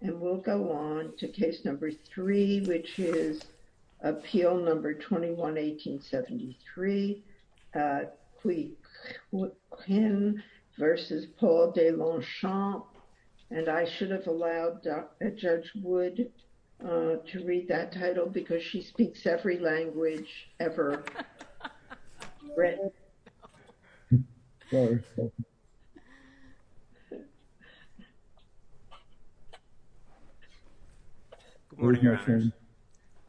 And we'll go on to case number three which is appeal number 21-1873 Qui Qin v. Paul Deslongchamps and I should have allowed Judge Wood to read that title because she speaks every language ever Good morning, Your Honor.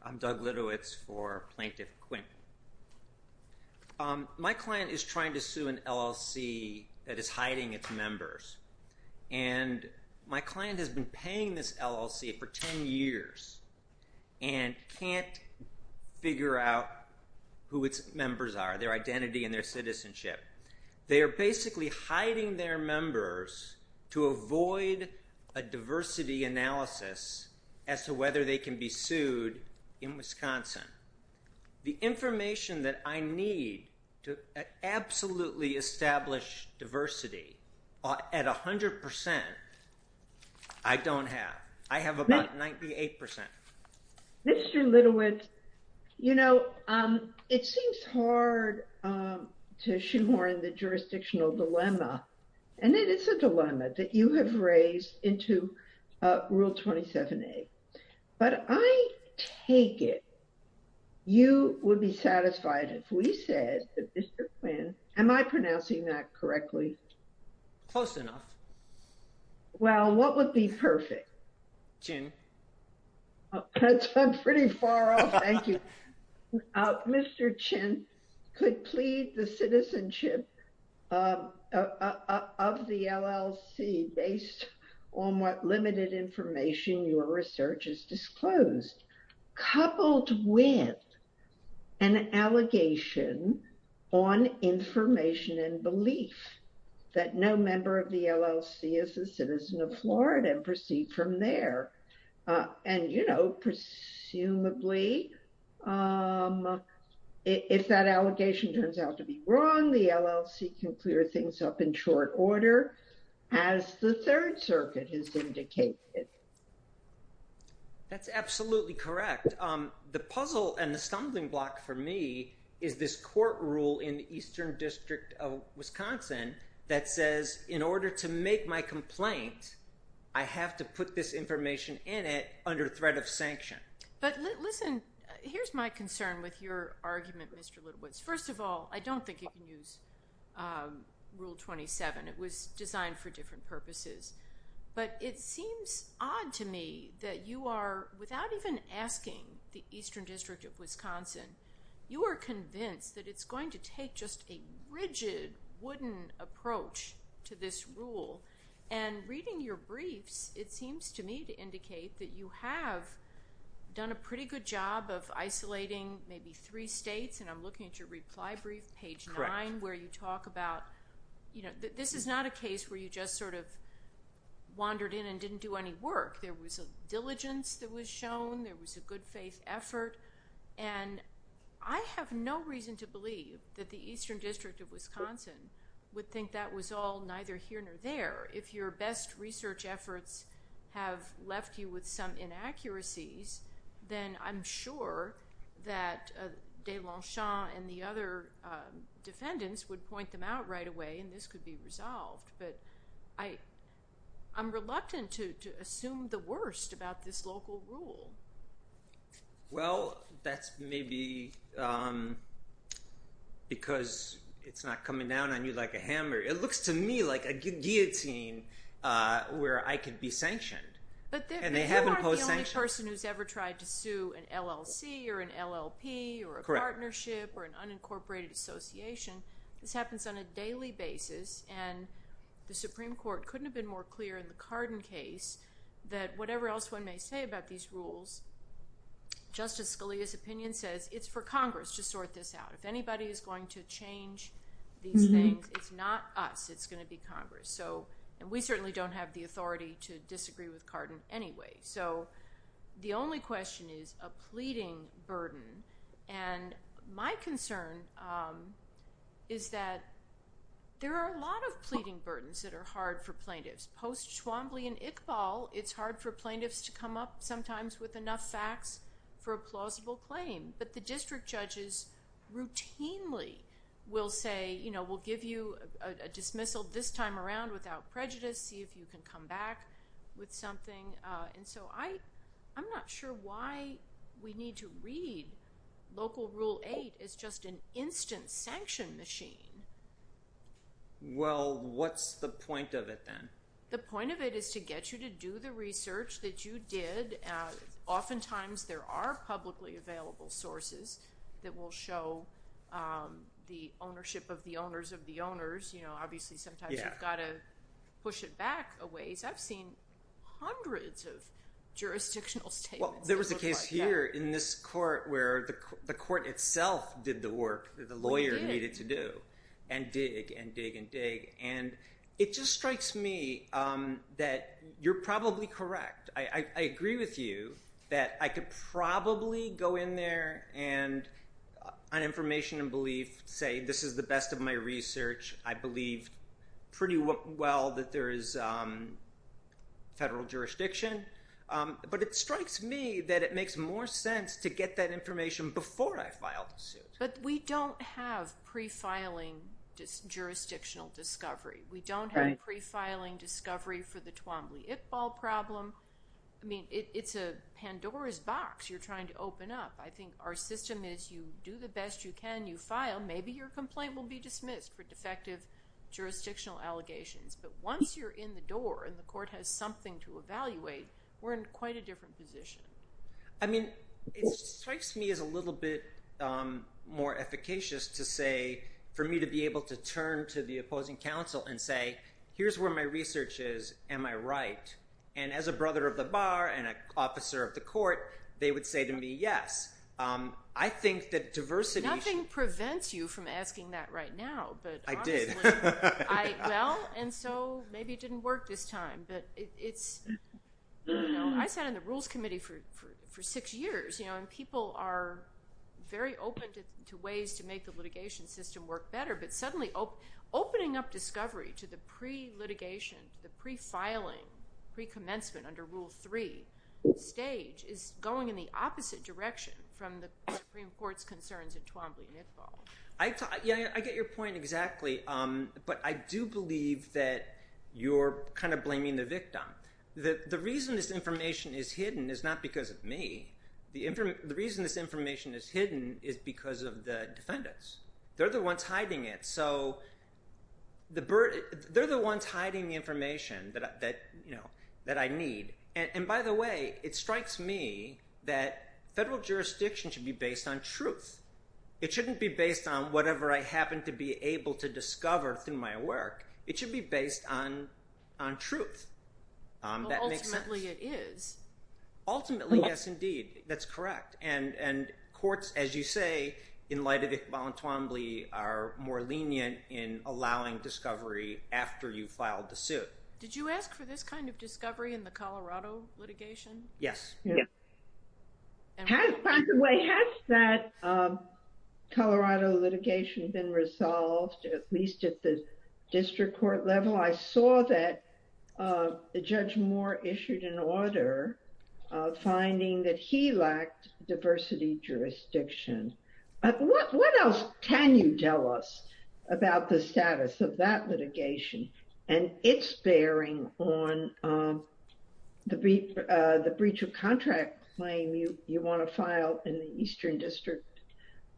I'm Doug Litowitz for Plaintiff Quinn. My client is trying to sue an LLC that is hiding its members and my client has been paying this LLC for 10 years and can't figure out who its members are, their identity and their citizenship. They are basically hiding their members to avoid a diversity analysis as to whether they can be sued in Wisconsin. The information that I need to absolutely establish diversity at 100% I don't the jurisdictional dilemma and it is a dilemma that you have raised into rule 27a but I take it you would be satisfied if we said that Mr. Quinn, am I pronouncing that correctly? Close enough. Well, what would be perfect? Qin. That's pretty far off, thank you. Mr. Qin could plead the citizenship of the LLC based on what limited information your research has disclosed coupled with an allegation on information and belief that no member of the um if that allegation turns out to be wrong the LLC can clear things up in short order as the Third Circuit has indicated. That's absolutely correct. The puzzle and the stumbling block for me is this court rule in Eastern District of Wisconsin that says in order to make my complaint I have to put this information in it under threat of sanction. But listen, here's my concern with your argument, Mr. Littlewoods. First of all, I don't think you can use rule 27. It was designed for different purposes but it seems odd to me that you are without even asking the Eastern District of Wisconsin you are convinced that it's going to take just a rigid wooden approach to this rule and reading your briefs it seems to me to indicate that you have done a pretty good job of isolating maybe three states and I'm looking at your reply brief page nine where you talk about you know this is not a case where you just sort of wandered in and didn't do any work. There was a diligence that was shown. There was a good faith effort and I have no reason to believe that the Eastern District of Wisconsin would think that was all either here nor there. If your best research efforts have left you with some inaccuracies then I'm sure that Deslenchon and the other defendants would point them out right away and this could be resolved. But I'm reluctant to assume the worst about this local rule. Well that's maybe because it's not coming down on you like a hammer. It looks to me like a guillotine where I can be sanctioned. But you aren't the only person who's ever tried to sue an LLC or an LLP or a partnership or an unincorporated association. This happens on a daily basis and the Supreme Court couldn't have been more clear in the Cardin case that whatever else one may say about these rules, Justice Scalia's opinion says it's for Congress to sort this out. If anybody is going to change these things it's not us. It's going to be Congress. So and we certainly don't have the authority to disagree with Cardin anyway. So the only question is a pleading burden and my concern is that there are a lot of pleading burdens that are hard for plaintiffs. Post Schwambly and Iqbal it's hard for plaintiffs to come up sometimes with enough facts for a plausible claim. But the district judges routinely will say you know we'll give you a dismissal this time around without prejudice see if you can come back with something. And so I'm not sure why we need to read local rule eight as just an instant sanction machine. Well what's the point of it then? The point of it is to get you to do the research that you did. Oftentimes there are publicly available sources that will show the ownership of the owners of the owners. You know obviously sometimes you've got to push it back a ways. I've seen hundreds of jurisdictional statements. Well there was a case here in this court where the court itself did the work that the lawyer needed to do and dig and dig and dig and it just strikes me that you're probably correct. I agree with you that I could probably go in there and on information and believe say this is the best of my research. I believe pretty well that there is federal jurisdiction. But it strikes me that makes more sense to get that information before I file the suit. But we don't have pre-filing jurisdictional discovery. We don't have pre-filing discovery for the Twombly-Iqbal problem. I mean it's a Pandora's box you're trying to open up. I think our system is you do the best you can, you file, maybe your complaint will be dismissed for defective jurisdictional allegations. But once you're in the door and the court has something to evaluate we're in quite a different position. I mean it strikes me as a little bit more efficacious to say for me to be able to turn to the opposing counsel and say here's where my research is. Am I right? And as a brother of the bar and an officer of the court they would say to me yes. I think that diversity. Nothing prevents you from asking that right now. I did. Well and so maybe it didn't work this time. But it's I sat on the rules committee for six years and people are very open to ways to make the litigation system work better. But suddenly opening up discovery to the pre-litigation, the pre-filing, pre-commencement under Rule 3 stage is going in the opposite direction from the Supreme Court's concerns in Twombly-Iqbal. I get your point exactly. But I do believe that you're kind of blaming the victim. The reason this information is hidden is not because of me. The reason this information is hidden is because of the defendants. They're the ones hiding it. So they're the ones hiding the information that I need. And by the way it strikes me that federal jurisdiction should be based on truth. It shouldn't be based on whatever I on truth. Ultimately it is. Ultimately yes indeed. That's correct. And courts as you say in light of Iqbal and Twombly are more lenient in allowing discovery after you filed the suit. Did you ask for this kind of discovery in the Colorado litigation? Yes. Has by the way, has that Colorado litigation been resolved at least at the district court level? I saw that Judge Moore issued an order finding that he lacked diversity jurisdiction. What else can you tell us about the status of that litigation and its bearing on the breach of contract claim you want to file in the Eastern District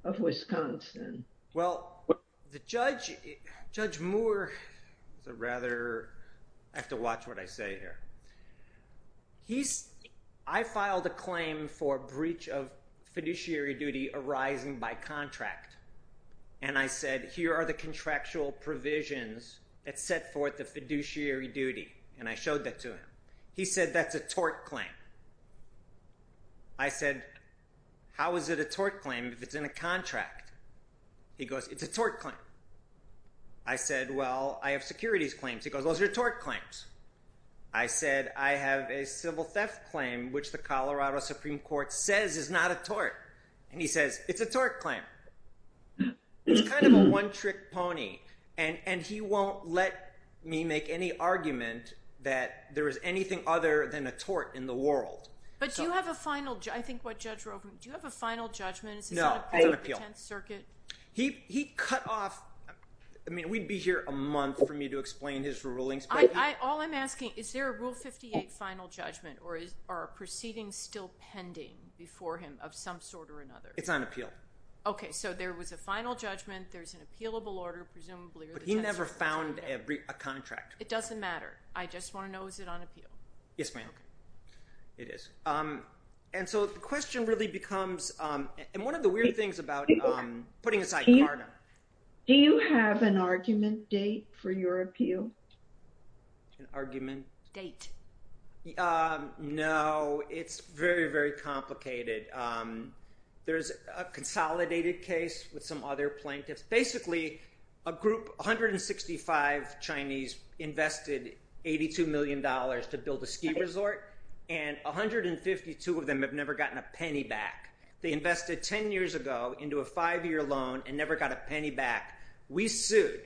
of Wisconsin? Well, the judge, Judge Moore, I have to watch what I say here. I filed a claim for breach of fiduciary duty arising by contract. And I said here are the contractual provisions that set forth the fiduciary duty. And I showed that to him. He said that's a tort claim. I said how is it a tort claim if it's in a contract? He goes, it's a tort claim. I said, well, I have securities claims. He goes, those are tort claims. I said, I have a civil theft claim, which the Colorado Supreme Court says is not a tort. And he says, it's a tort claim. It's kind of a one trick pony. And he won't let me make any argument that there is anything other than a tort in the world. But I think what Judge Rovner, do you have a final judgment? No, it's on appeal. He cut off, I mean, we'd be here a month for me to explain his rulings. All I'm asking, is there a Rule 58 final judgment or are proceedings still pending before him of some sort or another? It's on appeal. Okay. So there was a final judgment. There's an appealable order, presumably. But he never found a contract. It doesn't matter. I just want to know, is it on appeal? Yes, ma'am. It is. And so the question really becomes, and one of the weird things about, putting aside CARTA. Do you have an argument date for your appeal? An argument? Date. No, it's very, very complicated. There's a consolidated case with some other plaintiffs. Basically, a group, 165 Chinese invested $82 million to build a ski resort. And 152 of them have never gotten a penny back. They invested 10 years ago into a five-year loan and never got a penny back. We sued.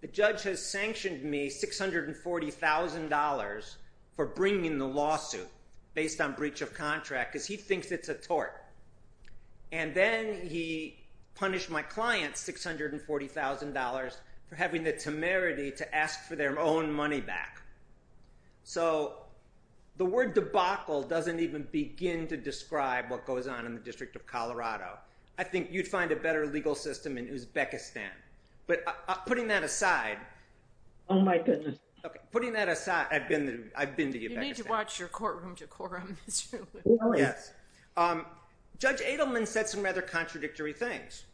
The judge has sanctioned me $640,000 for bringing the lawsuit based on $640,000 for having the temerity to ask for their own money back. So the word debacle doesn't even begin to describe what goes on in the District of Colorado. I think you'd find a better legal system in Uzbekistan. But putting that aside. Oh my goodness. Okay. Putting that aside, I've been to Uzbekistan. You need to watch your courtroom decorum. Yes. Judge Edelman said some rather contradictory things.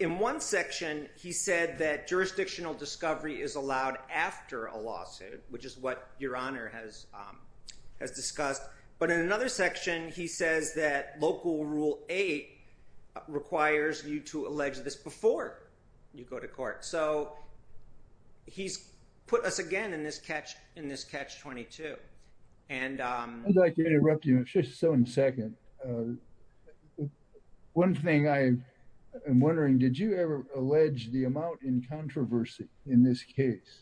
In one section, he said that jurisdictional discovery is allowed after a lawsuit, which is what your honor has discussed. But in another section, he says that local rule eight requires you to allege this before you go to court. So he's put us again in this catch 22. I'd like to interrupt you in just one second. One thing I am wondering, did you ever allege the amount in controversy in this case?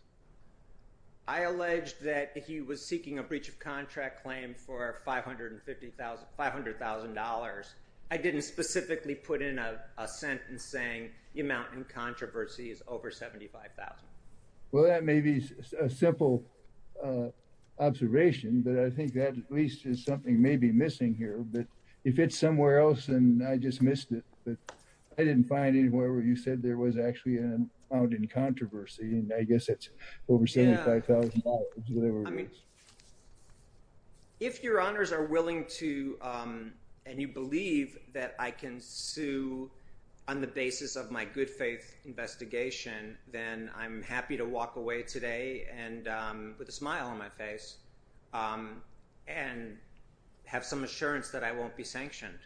I alleged that he was seeking a breach of contract claim for $500,000. I didn't specifically put in a sentence saying the amount in controversy is over $75,000. Well, that may be a simple observation, but I think that at least is something maybe missing here. But if it's somewhere else and I just missed it, but I didn't find anywhere where you said there was actually an amount in controversy. And I guess it's over $75,000. If your honors are willing to, and you believe that I can sue on the basis of my good faith investigation, then I'm happy to walk away today and with a smile on my face and have some assurance that I won't be sanctioned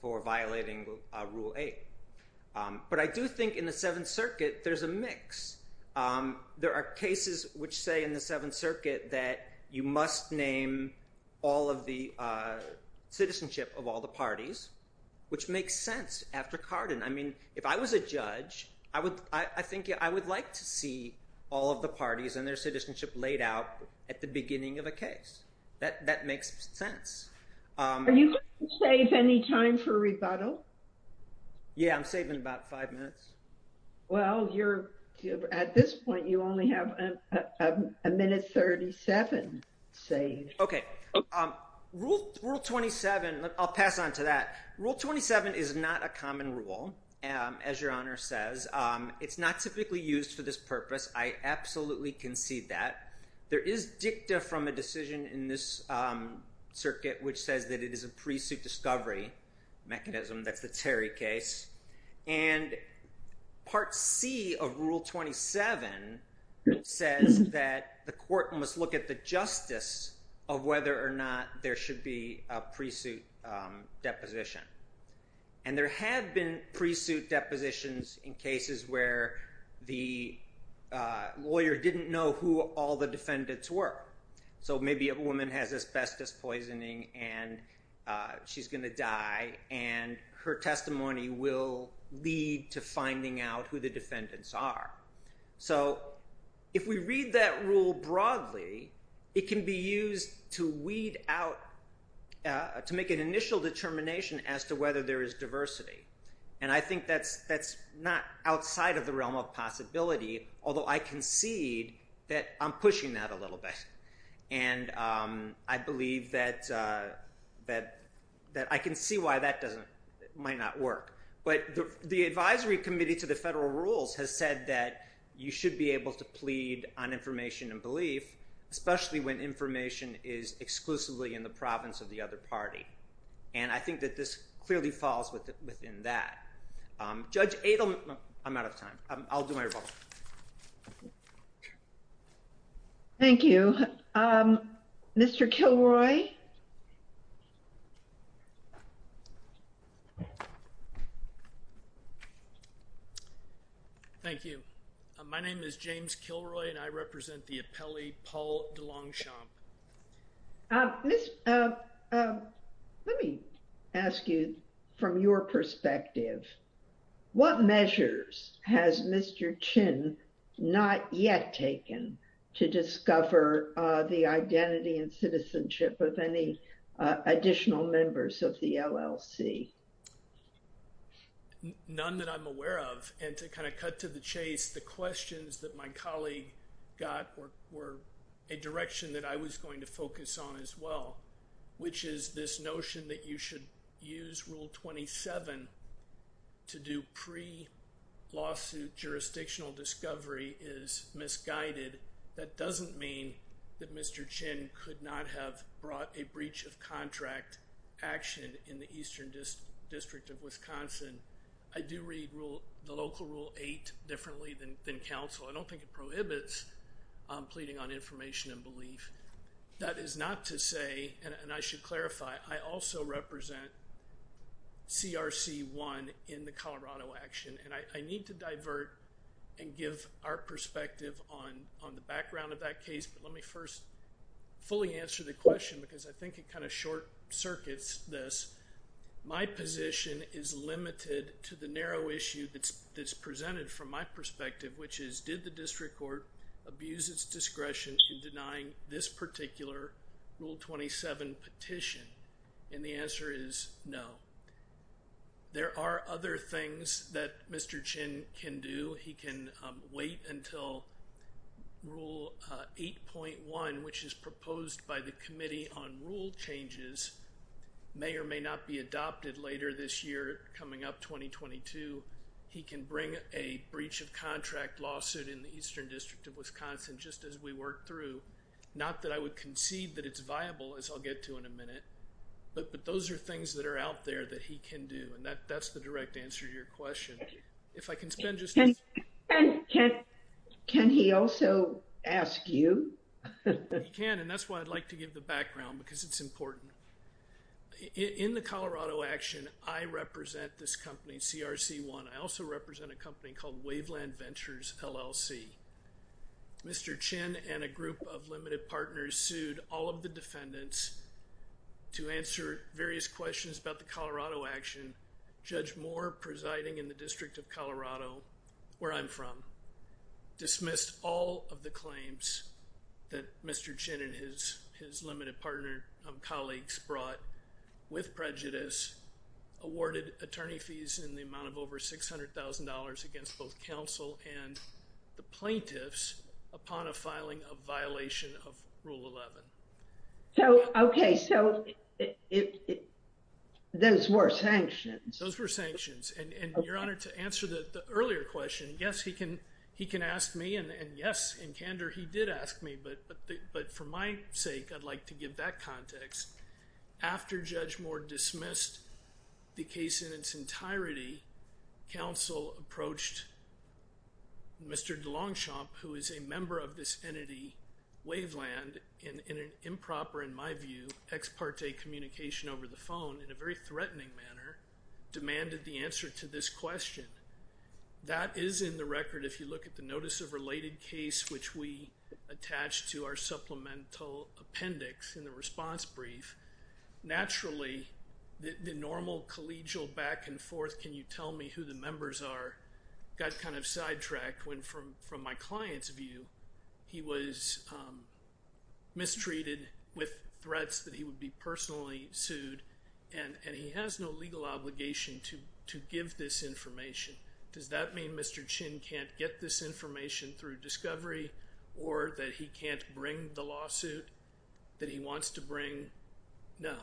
for violating rule eight. But I do think in the seventh circuit, there's a mix. There are cases which say in the seventh circuit that you must name all of the citizenship of all the parties, which makes sense after Carden. I mean, if I was a judge, I think I would like to see all of the parties and their citizenship laid out at the beginning of a case. That makes sense. Are you going to save any time for rebuttal? Yeah, I'm saving about five minutes. Well, at this point, you only have a minute 37 saved. Okay. Rule 27, I'll pass on to that. Rule 27 is not a common rule. As your honor says, it's not typically used for this purpose. I absolutely concede that. There is dicta from a decision in this circuit, which says that it is a pre-suit discovery mechanism. That's the Terry case. And part C of rule 27 says that the court must look at the justice of whether or not there should be a pre-suit deposition. And there have been pre-suit depositions in cases where the lawyer didn't know who all the defendants were. So maybe a woman has asbestos poisoning and she's going to die and her testimony will lead to finding out who the defendants are. So if we read that rule broadly, it can be used to weed out, to make an initial determination as to whether there is diversity. And I think that's not outside of the realm of possibility, although I concede that I'm pushing that a little bit. And I believe that, that I can see why that doesn't, might not work. But the advisory committee to the federal rules has said that you should be able to plead on information and belief, especially when information is exclusively in the province of the other party. And I think that this clearly falls within that. Judge Adelman, I'm out of time. I'll do my rebuttal. Thank you. Mr. Kilroy. Thank you. My name is James Kilroy and I represent the appellee, Paul DeLongchamp. Let me ask you from your perspective, what measures has Mr. Chin not yet taken to discover the identity and citizenship of any additional members of the LLC? None that I'm aware of. And to kind of cut to the chase, the questions that my colleague got were a direction that I was going to focus on as well, which is this notion that you should use rule 27 to do pre-lawsuit jurisdictional discovery is misguided. That doesn't mean that Mr. Chin could not have brought a breach of contract action in the Eastern District of Pleading on Information and Belief. That is not to say, and I should clarify, I also represent CRC 1 in the Colorado action. And I need to divert and give our perspective on the background of that case. But let me first fully answer the question because I think it kind of short circuits this. My position is limited to the narrow issue that's presented from my perspective, which is did the district court abuse its discretion in denying this particular rule 27 petition? And the answer is no. There are other things that Mr. Chin can do. He can wait until rule 8.1, which is proposed by the committee on rule changes may or may not be adopted later this year, coming up 2022. He can bring a breach of contract lawsuit in the Eastern District of Wisconsin, just as we worked through. Not that I would concede that it's viable as I'll get to in a minute, but those are things that are out there that he can do. And that's the direct answer to your question. If I can spend just a second. Can he also ask you? He can. And that's why I'd like give the background because it's important. In the Colorado action, I represent this company, CRC1. I also represent a company called Waveland Ventures, LLC. Mr. Chin and a group of limited partners sued all of the defendants to answer various questions about the Colorado action. Judge Moore presiding in the District of Colorado, where I'm from, dismissed all of the claims that Mr. Chin and his limited partner colleagues brought with prejudice, awarded attorney fees in the amount of over $600,000 against both counsel and the plaintiffs upon a filing of violation of Rule 11. Okay, so those were sanctions. Those were sanctions. And you're honored to answer the question. But for my sake, I'd like to give that context. After Judge Moore dismissed the case in its entirety, counsel approached Mr. DeLongchamp, who is a member of this entity, Waveland, in an improper, in my view, ex parte communication over the phone in a very threatening manner, demanded the answer to this question. That is in the record if you look at the notice of related case which we attached to our supplemental appendix in the response brief, naturally, the normal collegial back and forth, can you tell me who the members are, got kind of sidetracked when from my client's view, he was mistreated with threats that he would be personally sued, and he has no legal obligation to give this information. Does that mean Mr. Chin can't get this information through discovery or that he can't bring the lawsuit that he wants to bring? No.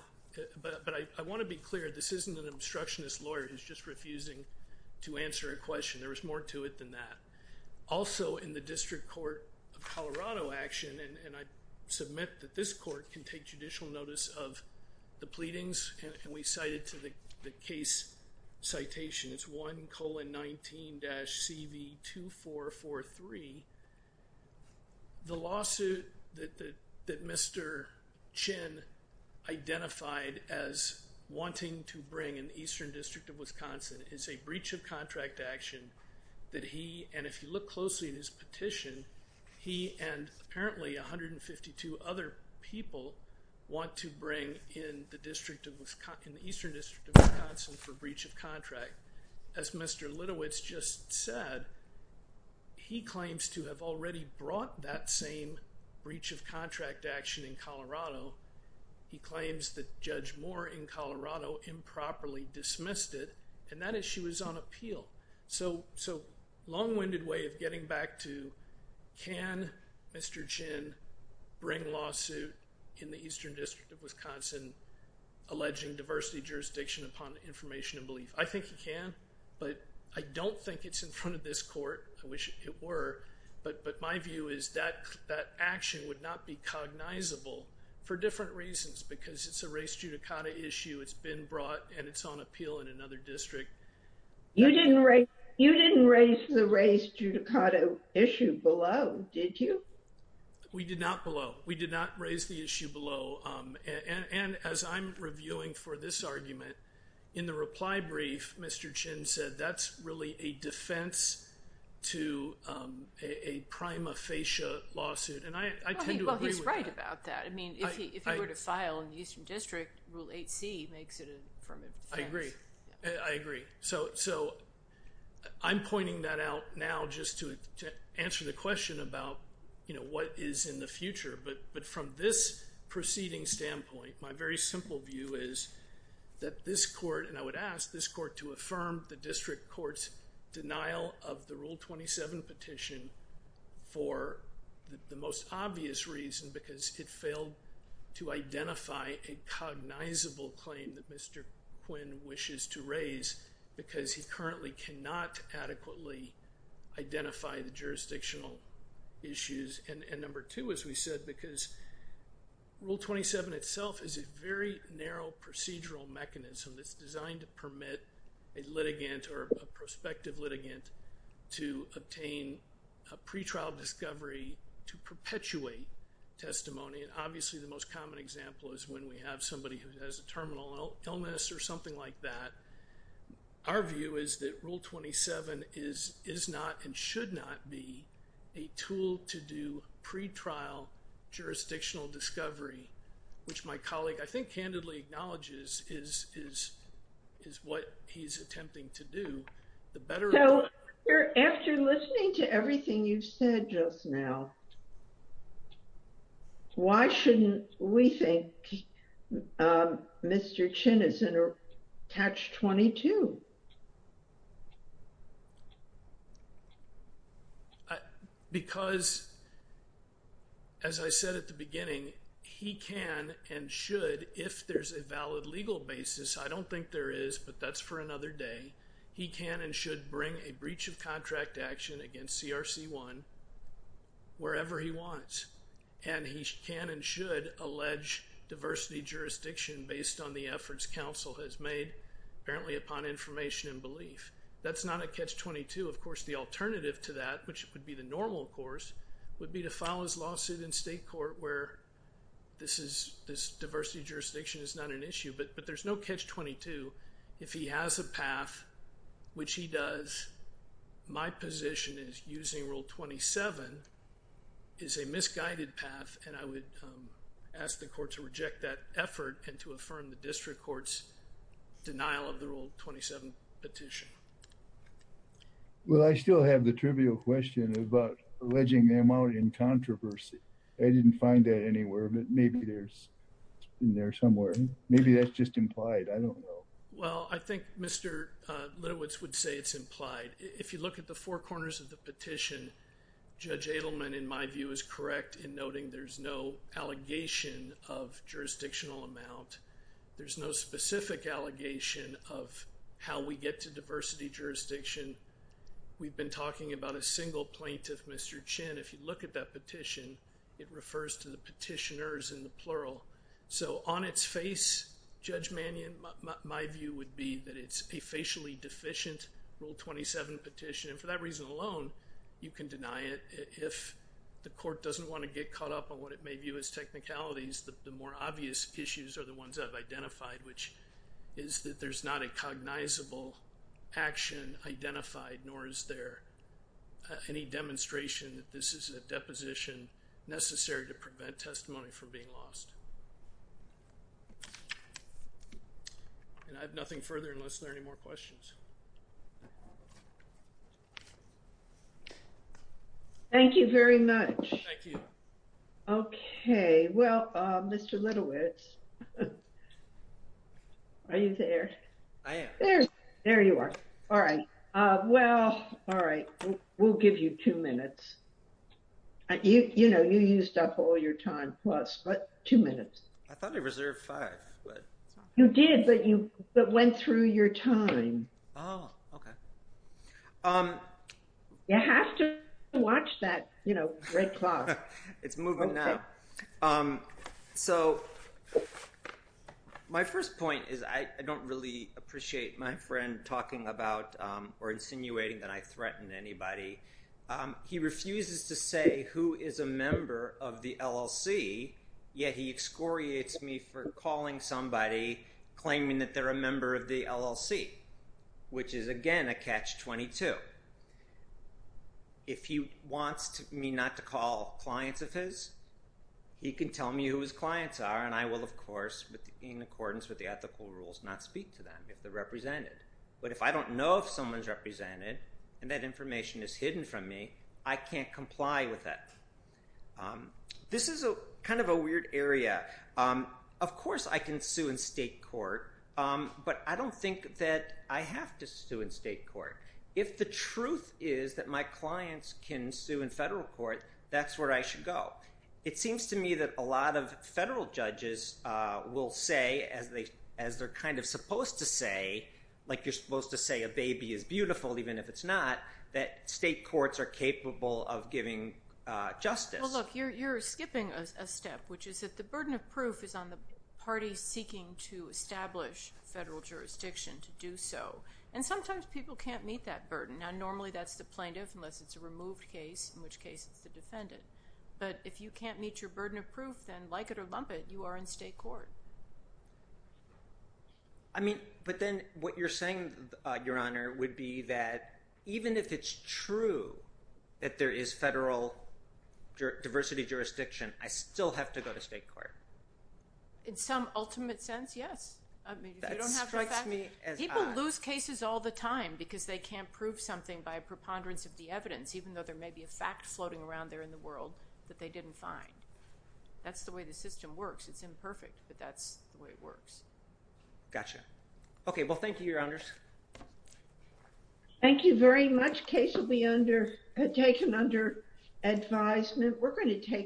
But I want to be clear, this isn't an obstructionist lawyer who's just refusing to answer a question. There was more to it than that. Also, in the District Court of Colorado action, and I submit that this court can take judicial notice of the pleadings, and we cited to the case citation, it's 1 colon 19 dash CV 2443. The lawsuit that Mr. Chin identified as wanting to bring in the Eastern District of Wisconsin is a breach of contract action that he, and if you look closely at his petition, he and apparently 152 other people want to bring in the Eastern District of Wisconsin for breach of contract. As Mr. Litowitz just said, he claims to have already brought that same breach of contract action in Colorado. He claims that Judge Moore in Colorado improperly dismissed it, and that issue is on Eastern District of Wisconsin alleging diversity jurisdiction upon information and belief. I think he can, but I don't think it's in front of this court. I wish it were, but my view is that action would not be cognizable for different reasons because it's a race judicata issue. It's been brought, and it's on appeal in another district. You didn't raise the race judicata issue below, did you? We did not below. We did not raise the issue below, and as I'm reviewing for this argument, in the reply brief, Mr. Chin said that's really a defense to a prima facie lawsuit, and I tend to agree with that. Well, he's right about that. I mean, if he were to file in the Eastern District, Rule 8c makes it a form of defense. I agree. I agree. So I'm pointing that out now just to answer the question about what is in the future, but from this proceeding standpoint, my very simple view is that this court, and I would ask this court to affirm the district court's denial of the Rule 27 petition for the most obvious reason because it failed to identify a cognizable claim that Mr. Quinn wishes to raise because he currently cannot adequately identify the jurisdictional issues, and number two, as we said, because Rule 27 itself is a very narrow procedural mechanism that's designed to permit a litigant or a prospective litigant to obtain a pretrial discovery to perpetuate testimony, and obviously the most common example is when we have somebody who has a terminal illness or something like that. Our view is that this is not and should not be a tool to do pretrial jurisdictional discovery, which my colleague, I think, candidly acknowledges is what he's attempting to do. So after listening to everything you've said just now, why shouldn't we think Mr. Chin is in a Catch-22? Because as I said at the beginning, he can and should, if there's a valid legal basis, I don't think there is, but that's for another day, he can and should bring a breach of contract action against CRC 1 wherever he wants, and he can and should allege diversity jurisdiction based on the efforts counsel has made apparently upon information and belief. That's not a Catch-22. Of course, the alternative to that, which would be the normal course, would be to file his lawsuit in state court where this diversity jurisdiction is not an issue, but there's no Catch-22 if he has a path, which he does. My position is using Rule 27 is a misguided path, and I would ask the court to reject that effort and to affirm the district court's denial of the Rule 27 petition. Well, I still have the trivial question about alleging them out in controversy. I didn't find that anywhere, but maybe there's in there somewhere. Maybe that's just implied. I don't know. Well, I think Mr. Linowitz would say it's implied. If you look at the four corners of the petition, Judge Adelman, in my view, is correct in noting there's no allegation of jurisdictional amount. There's no specific allegation of how we get to diversity jurisdiction. We've been talking about a single plaintiff, Mr. Chin. If you look at that petition, it refers to the petitioners in the that it's a facially deficient Rule 27 petition. For that reason alone, you can deny it. If the court doesn't want to get caught up on what it may view as technicalities, the more obvious issues are the ones I've identified, which is that there's not a cognizable action identified, nor is there any demonstration that this is a deposition necessary to prevent testimony from being lost. And I have nothing further unless there are any more questions. Thank you very much. Thank you. Okay. Well, Mr. Linowitz, are you there? I am. There you are. All right. Well, all right. We'll give you two minutes. You know, you used up all your time plus, but two minutes. I thought I reserved five. You did, but you went through your time. Oh, okay. You have to watch that, you know, red cloth. It's moving now. So my first point is I don't really appreciate my friend talking about or insinuating that I threaten anybody. He refuses to say who is a member of the LLC, yet he excoriates me for calling somebody, claiming that they're a member of the LLC, which is, again, a catch-22. If he wants me not to call clients of his, he can tell me who his clients are, and I will, of course, in accordance with the ethical rules, not speak to them if they're represented. But if I don't know if someone's represented and that information is hidden from me, I can't comply with that. This is kind of a weird area. Of course, I can sue in state court, but I don't think that I have to sue in state court. If the truth is that my clients can sue in federal court, that's where I should go. It seems to me that a lot of federal judges will say, as they're kind of supposed to say, like you're supposed to say a baby is beautiful, even if it's not, that state courts are capable of giving justice. Well, look, you're skipping a step, which is that the burden of proof is on the parties seeking to establish federal jurisdiction to do so. And sometimes people can't meet that burden. Now, normally, that's the plaintiff, unless it's a removed case, in which case it's the defendant. But if you can't meet your burden of proof, then like it or lump it, you are in state court. I mean, but then what you're saying, Your Honor, would be that even if it's true that there is federal diversity jurisdiction, I still have to go to state court. In some ultimate sense, yes. I mean, if you don't have to- That strikes me as odd. We lose cases all the time because they can't prove something by a preponderance of the evidence, even though there may be a fact floating around there in the world that they didn't find. That's the way the system works. It's imperfect, but that's the way it works. Gotcha. Okay. Well, thank you, Your Honors. Thank you very much. Case will be taken under advisement. We're going to take a-